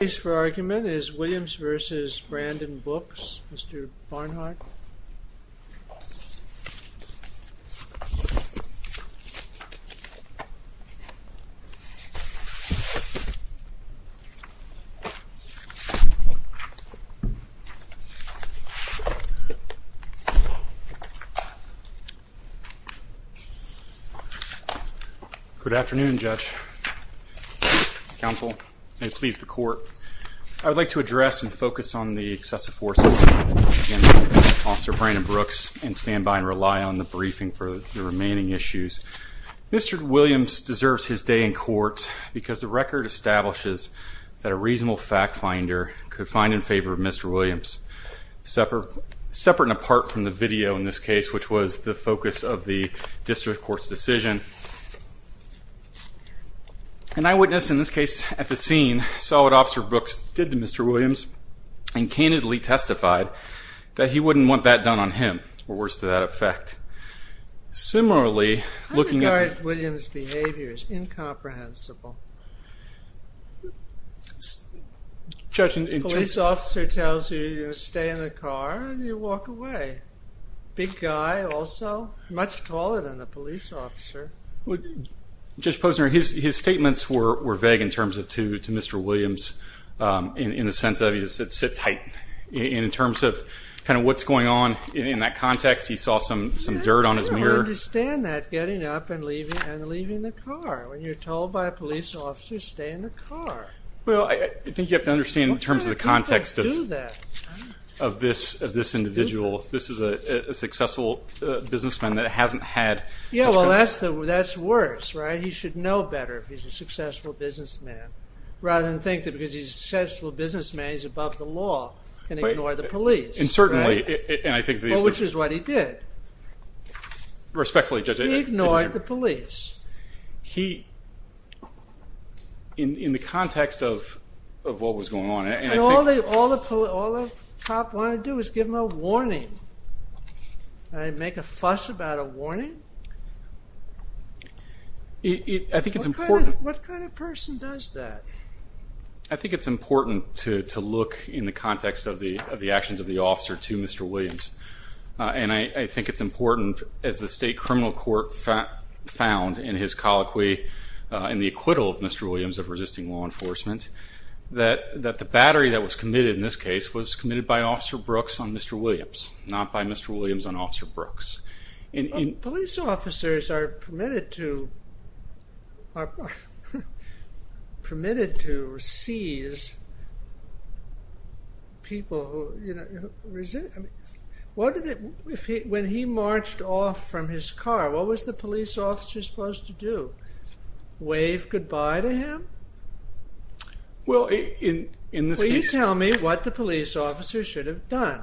Case for argument is Williams v. Brandon Brooks. Mr. Barnhart. Good afternoon, Judge. Counsel, may it please the court, I would like to address and focus on the excessive forces against Officer Brandon Brooks and stand by and rely on the briefing for the remaining issues. Mr. Williams deserves his day in court because the record establishes that a reasonable fact finder could find in favor of Mr. Williams. Separate and apart from the video in this case, which was the District Court's decision, an eyewitness in this case at the scene saw what Officer Brooks did to Mr. Williams and candidly testified that he wouldn't want that done on him, or worse to that effect. Similarly, looking at Williams behavior is incomprehensible. Judge, a police officer tells you you stay in the car and you walk away. Big guy, also, much taller than the police officer. Judge Posner, his statements were vague in terms of to Mr. Williams in the sense of he said sit tight. In terms of kind of what's going on in that context, he saw some some dirt on his mirror. I don't understand that, getting up and leaving the car, when you're told by a police officer stay in the car. Well, I think you have to this individual, this is a successful businessman that hasn't had... Yeah, well that's worse, right? He should know better if he's a successful businessman, rather than think that because he's a successful businessman, he's above the law and ignore the police. And certainly, and I think... Which is what he did. Respectfully, Judge. He ignored the police. He, in the context of what was going on... And all the cop wanted to do was give him a warning. Make a fuss about a warning? I think it's important... What kind of person does that? I think it's important to look in the context of the actions of the officer to Mr. Williams. And I think it's important, as the state criminal court found in his colloquy, in the acquittal of Mr. Williams of resisting law enforcement, that the battery that was committed in this case was committed by Officer Brooks on Mr. Williams, not by Mr. Williams on Officer Brooks. Police officers are permitted to seize people. When he marched off from his car, what was the police officer supposed to do? Wave goodbye to him? Well, in this case... Will you tell me what the police officer should have done?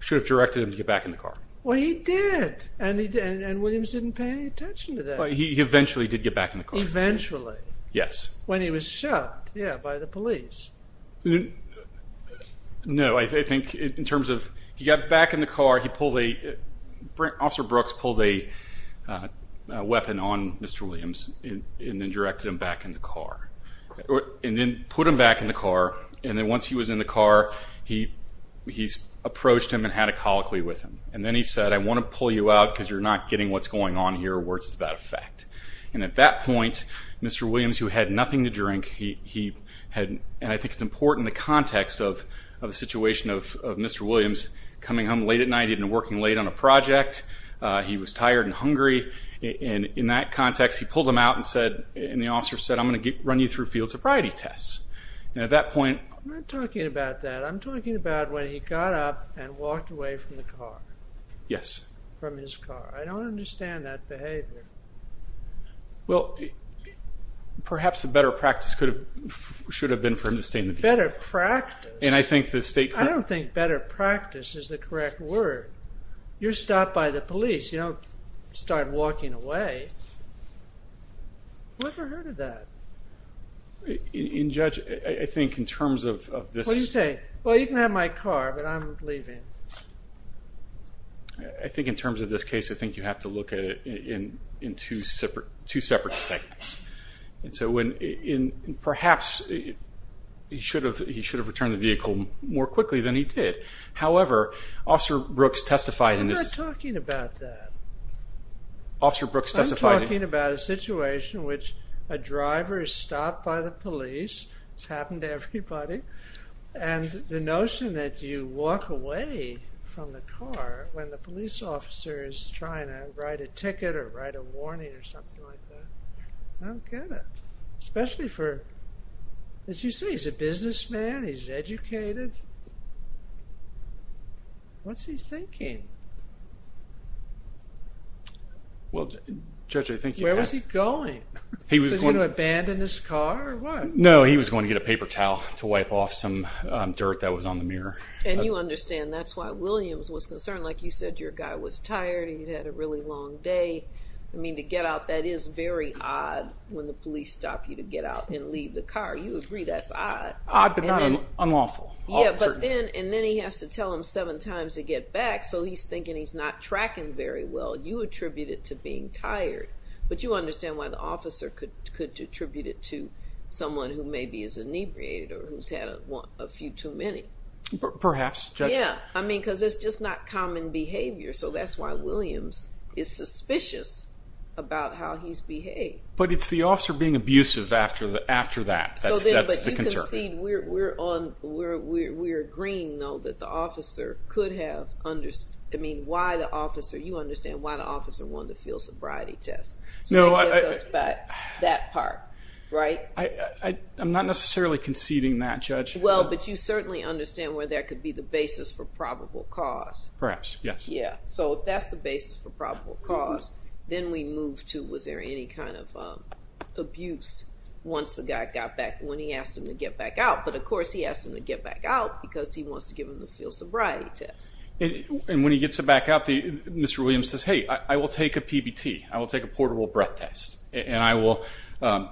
Should have directed him to get back in the car. Well, he did. And Williams didn't pay any attention to that. He eventually did get back in the car. Eventually. Yes. When he was shot, yeah, by the police. No, I think in terms of... He got back in the car, he pulled a... Officer Brooks pulled a weapon on Mr. Williams and then directed him back in the car. And then put him back in the car, and then once he was in the car, he approached him and had a colloquy with him. And then he said, I want to pull you out because you're not getting what's going on here or where it's at that effect. And at that point, Mr. Williams, who had nothing to drink, he had... And I think it's important in the context of the situation of Mr. Williams, coming home late at night and working late on a project. He was tired and hungry. And in that context, he pulled him out and said... And the officer said, I'm going to run you through field sobriety tests. And at that point... I'm not talking about that. I'm talking about when he got up and walked away from the car. Yes. From his car. I don't understand that behavior. Well, perhaps a better practice should have been for him to stay in the vehicle. Better practice? And I think the state... I don't think better practice is the correct word. You're stopped by the police. You don't start walking away. Who ever heard of that? In judge, I think in terms of this... What do you say? Well, you can have my car, but I'm leaving. I think in terms of this case, I think you have to look at it in two separate segments. And so perhaps he should have returned the vehicle more quickly than he did. However, Officer Brooks testified in this... I'm not talking about that. Officer Brooks testified... I'm talking about a situation in which a driver is stopped by the police. It's happened to everybody. And the notion that you walk away from the car when the police officer is trying to write a ticket or write a warning or something like that. I don't get it. Especially for, as you say, he's a businessman. He's educated. What's he thinking? Well, Judge, I think... Where was he going? Was he going to abandon his car or what? No, he was going to get a paper towel to wipe off some dirt that was on the mirror. And you understand that's why Williams was concerned. Like you said, your guy was tired. He had a really long day. I mean, to get out, that is very odd when the police stop you to get out and leave the car. You agree that's odd. Odd, but not unlawful. Yeah, but then he has to tell them seven times to get back. So he's thinking he's not tracking very well. You attribute it to being tired. But you understand why the officer could attribute it to someone who maybe is inebriated or who's had a few too many. Perhaps. Yeah. I mean, because it's just not common behavior. So that's why Williams is suspicious about how he's behaved. But it's the officer being abusive after that. That's the concern. We're agreeing, though, that the officer could have... I mean, you understand why the officer wanted a field sobriety test. So that gets us back to that part, right? I'm not necessarily conceding that, Judge. Well, but you certainly understand where that could be the basis for probable cause. Perhaps, yes. So if that's the basis for probable cause, then we move to was there any kind of abuse once the guy got back, when he asked him to get back out. But, of course, he asked him to get back out because he wants to give him the field sobriety test. And when he gets back out, Mr. Williams says, hey, I will take a PBT. I will take a portable breath test. And I will,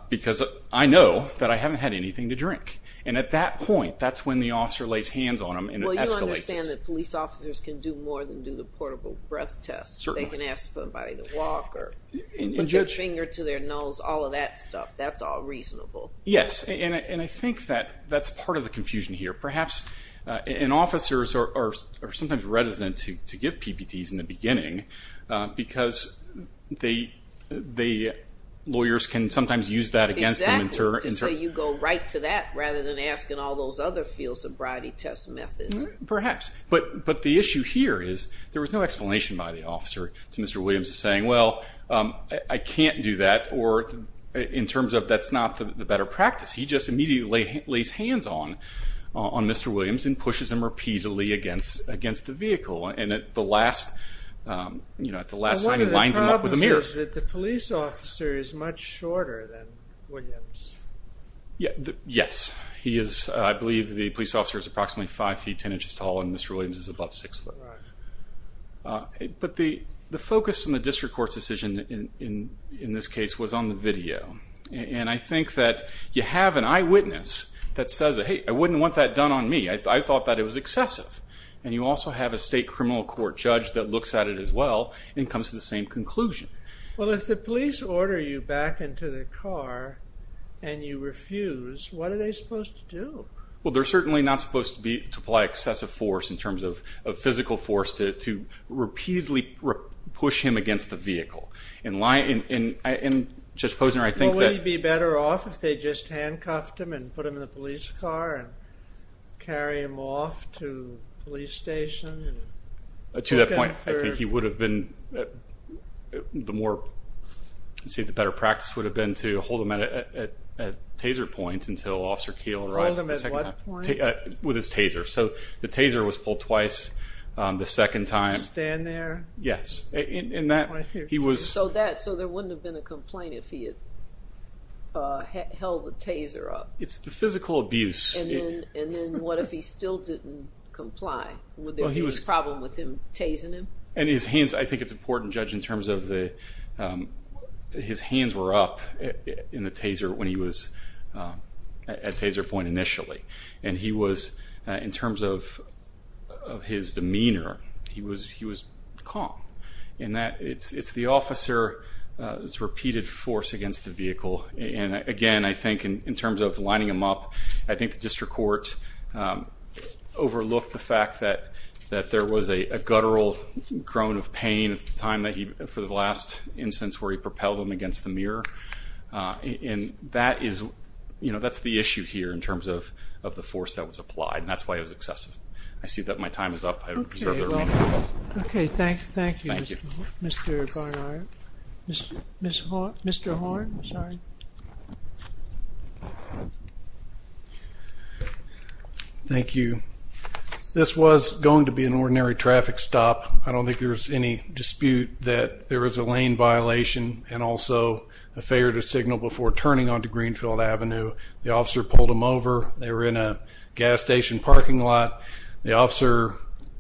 because I know that I haven't had anything to drink. And at that point, that's when the officer lays hands on him and escalates it. I understand that police officers can do more than do the portable breath test. Certainly. They can ask somebody to walk or put their finger to their nose, all of that stuff. That's all reasonable. Yes. And I think that that's part of the confusion here. Perhaps, and officers are sometimes reticent to give PBTs in the beginning because the lawyers can sometimes use that against them. Exactly. To say you go right to that rather than asking all those other field sobriety test methods. Perhaps. But the issue here is there was no explanation by the officer to Mr. Williams saying, well, I can't do that, or in terms of that's not the better practice. He just immediately lays hands on Mr. Williams and pushes him repeatedly against the vehicle. And at the last sign, he lines him up with the mirrors. One of the problems is that the police officer is much shorter than Williams. Yes. I believe the police officer is approximately five feet, ten inches tall, and Mr. Williams is above six foot. Right. But the focus in the district court's decision in this case was on the video. And I think that you have an eyewitness that says, hey, I wouldn't want that done on me. I thought that it was excessive. And you also have a state criminal court judge that looks at it as well and comes to the same conclusion. Well, if the police order you back into the car and you refuse, what are they supposed to do? Well, they're certainly not supposed to apply excessive force in terms of physical force to repeatedly push him against the vehicle. And Judge Posner, I think that... Wouldn't he be better off if they just handcuffed him and put him in the police car and carry him off to the police station? To that point, I think he would have been... The more, let's see, the better practice would have been to hold him at a taser point until Officer Keel arrives. Hold him at what point? With his taser. So the taser was pulled twice the second time. Stand there? Yes. So there wouldn't have been a complaint if he had held the taser up? It's the physical abuse. And then what if he still didn't comply? Would there be a problem with him tasering him? And his hands, I think it's important, Judge, in terms of his hands were up in the taser when he was at taser point initially. And he was, in terms of his demeanor, he was calm. And it's the officer's repeated force against the vehicle. And again, I think in terms of lining him up, I think the district court overlooked the fact that there was a guttural groan of pain at the time that he, for the last instance where he propelled him against the mirror. And that is, you know, that's the issue here in terms of the force that was applied. And that's why it was excessive. I see that my time is up. Okay, thank you, Mr. Barnard. Mr. Horn, I'm sorry. Thank you. This was going to be an ordinary traffic stop. I don't think there was any dispute that there was a lane violation and also a failure to signal before turning onto Greenfield Avenue. The officer pulled him over. They were in a gas station parking lot. The officer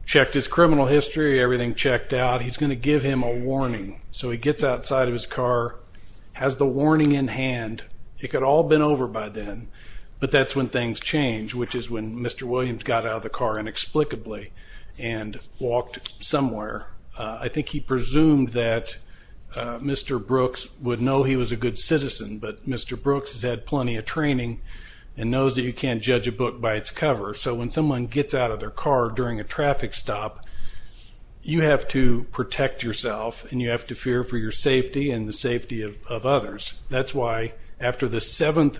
checked his criminal history. Everything checked out. He's going to give him a warning. So he gets outside of his car, has the warning in hand. It could have all been over by then. But that's when things change, which is when Mr. Williams got out of the car inexplicably and walked somewhere. I think he presumed that Mr. Brooks would know he was a good citizen. But Mr. Brooks has had plenty of training and knows that you can't judge a book by its cover. So when someone gets out of their car during a traffic stop, you have to protect yourself and you have to fear for your safety and the safety of others. That's why after the seventh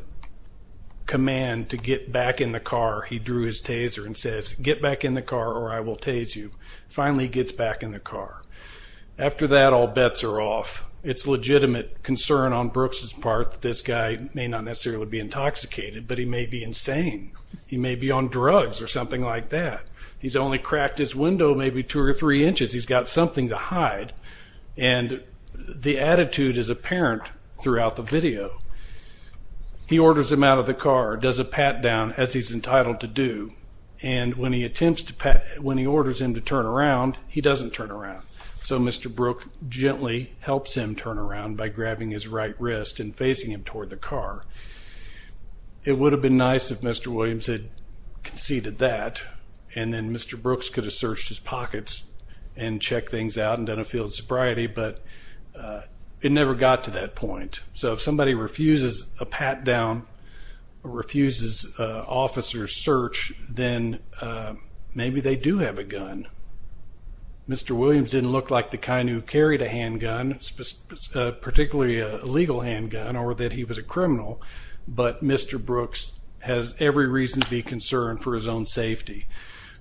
command to get back in the car, he drew his taser and says, get back in the car or I will tase you. Finally, he gets back in the car. After that, all bets are off. It's legitimate concern on Brooks' part that this guy may not necessarily be intoxicated, but he may be insane. He may be on drugs or something like that. He's only cracked his window maybe two or three inches. He's got something to hide. And the attitude is apparent throughout the video. He orders him out of the car, does a pat down, as he's entitled to do. And when he attempts to pat, when he orders him to turn around, he doesn't turn around. So Mr. Brooks gently helps him turn around by grabbing his right wrist and facing him toward the car. It would have been nice if Mr. Williams had conceded that and then Mr. Brooks could have searched his pockets and checked things out and done a field sobriety, but it never got to that point. So if somebody refuses a pat down or refuses an officer's search, then maybe they do have a gun. Mr. Williams didn't look like the kind who carried a handgun, particularly a legal handgun, or that he was a criminal, but Mr. Brooks has every reason to be concerned for his own safety.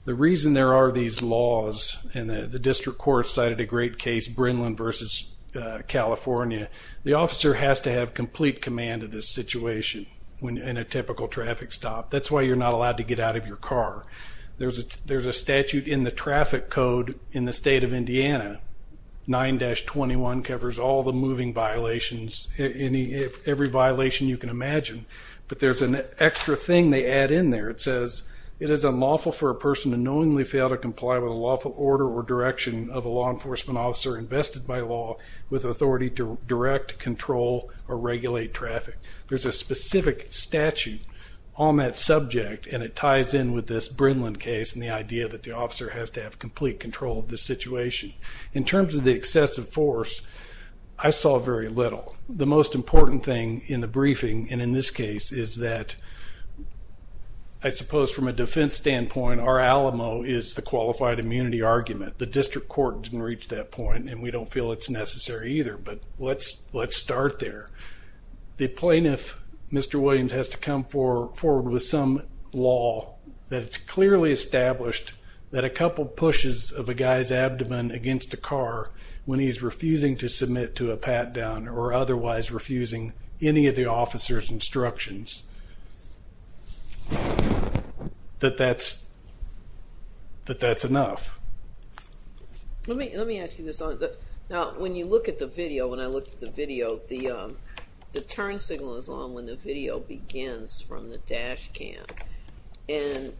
The reason there are these laws, and the district court cited a great case, Brindlin v. California, the officer has to have complete command of this situation in a typical traffic stop. That's why you're not allowed to get out of your car. There's a statute in the traffic code in the state of Indiana, 9-21, covers all the moving violations, every violation you can imagine, but there's an extra thing they add in there. It says, it is unlawful for a person to knowingly fail to comply with a lawful order or direction of a law enforcement officer invested by law with authority to direct, control, or regulate traffic. There's a specific statute on that subject, and it ties in with this Brindlin case and the idea that the officer has to have complete control of the situation. In terms of the excessive force, I saw very little. The most important thing in the briefing, and in this case, is that I suppose from a defense standpoint, our Alamo is the qualified immunity argument. The district court didn't reach that point, and we don't feel it's necessary either, but let's start there. The plaintiff, Mr. Williams, has to come forward with some law that it's clearly established that a couple pushes of a guy's abdomen against a car when he's refusing to submit to a pat-down or otherwise refusing any of the officer's instructions, that that's enough. Let me ask you this. Now, when you look at the video, when I looked at the video, the turn signal is on when the video begins from the dash cam, and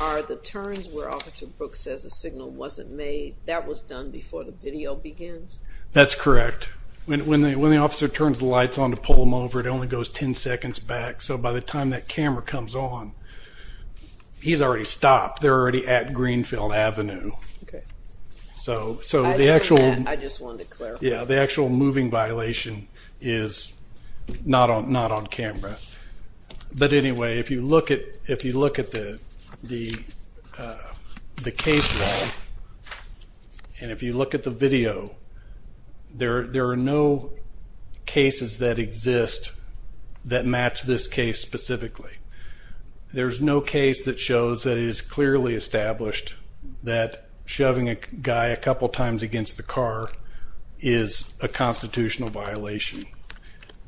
are the turns where Officer Brooks says the signal wasn't made, that was done before the video begins? That's correct. When the officer turns the lights on to pull them over, it only goes 10 seconds back, so by the time that camera comes on, he's already stopped. They're already at Greenfield Avenue. I just wanted to clarify. The actual moving violation is not on camera. But anyway, if you look at the case log and if you look at the video, there are no cases that exist that match this case specifically. There's no case that shows that it is clearly established that shoving a guy a couple times against the car is a constitutional violation.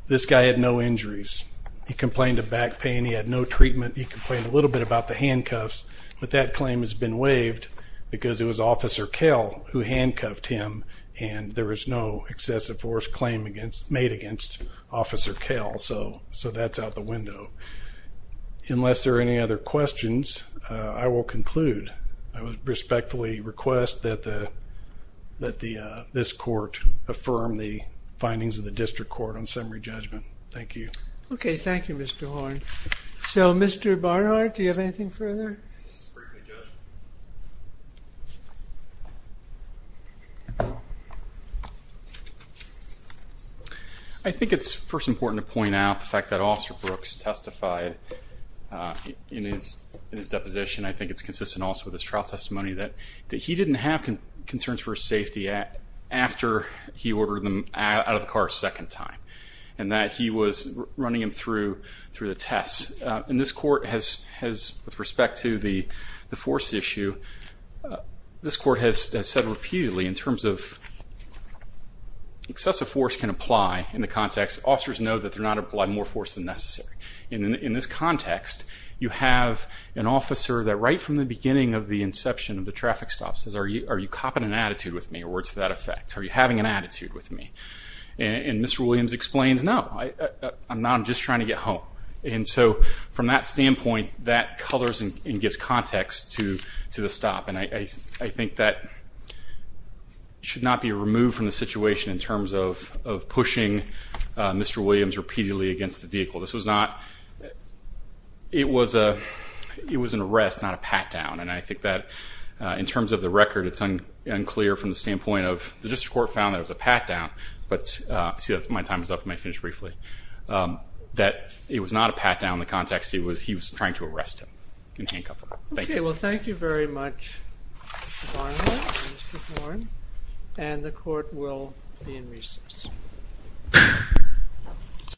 This guy had no injuries. He complained of back pain. He had no treatment. He complained a little bit about the handcuffs, but that claim has been waived because it was Officer Kell who handcuffed him, and there was no excessive force made against Officer Kell, so that's out the window. Unless there are any other questions, I will conclude. I respectfully request that this court affirm the findings of the district court on summary judgment. Thank you. Okay. Thank you, Mr. Horn. So, Mr. Barnhart, do you have anything further? I think it's first important to point out the fact that Officer Brooks testified in his deposition. I think it's consistent also with his trial testimony that he didn't have concerns for his safety after he ordered him out of the car a second time and that he was running him through the tests. And this court has, with respect to the force issue, this court has said repeatedly in terms of excessive force can apply in the context, officers know that they're not applying more force than necessary. In this context, you have an officer that right from the beginning of the inception of the traffic stop says, are you copping an attitude with me, or words to that effect? Are you having an attitude with me? And Ms. Williams explains, no, I'm not. I'm trying to get home. And so from that standpoint, that colors and gives context to the stop. And I think that should not be removed from the situation in terms of pushing Mr. Williams repeatedly against the vehicle. This was not, it was an arrest, not a pat down. And I think that in terms of the record, it's unclear from the standpoint of the district court found that it was a pat down, but I see that my time is up and I finished briefly, that it was not a pat down in the context. He was trying to arrest him in handcuff. Thank you. Okay, well thank you very much, Mr. Barnhill and Mr. Thorne. And the court will be in recess.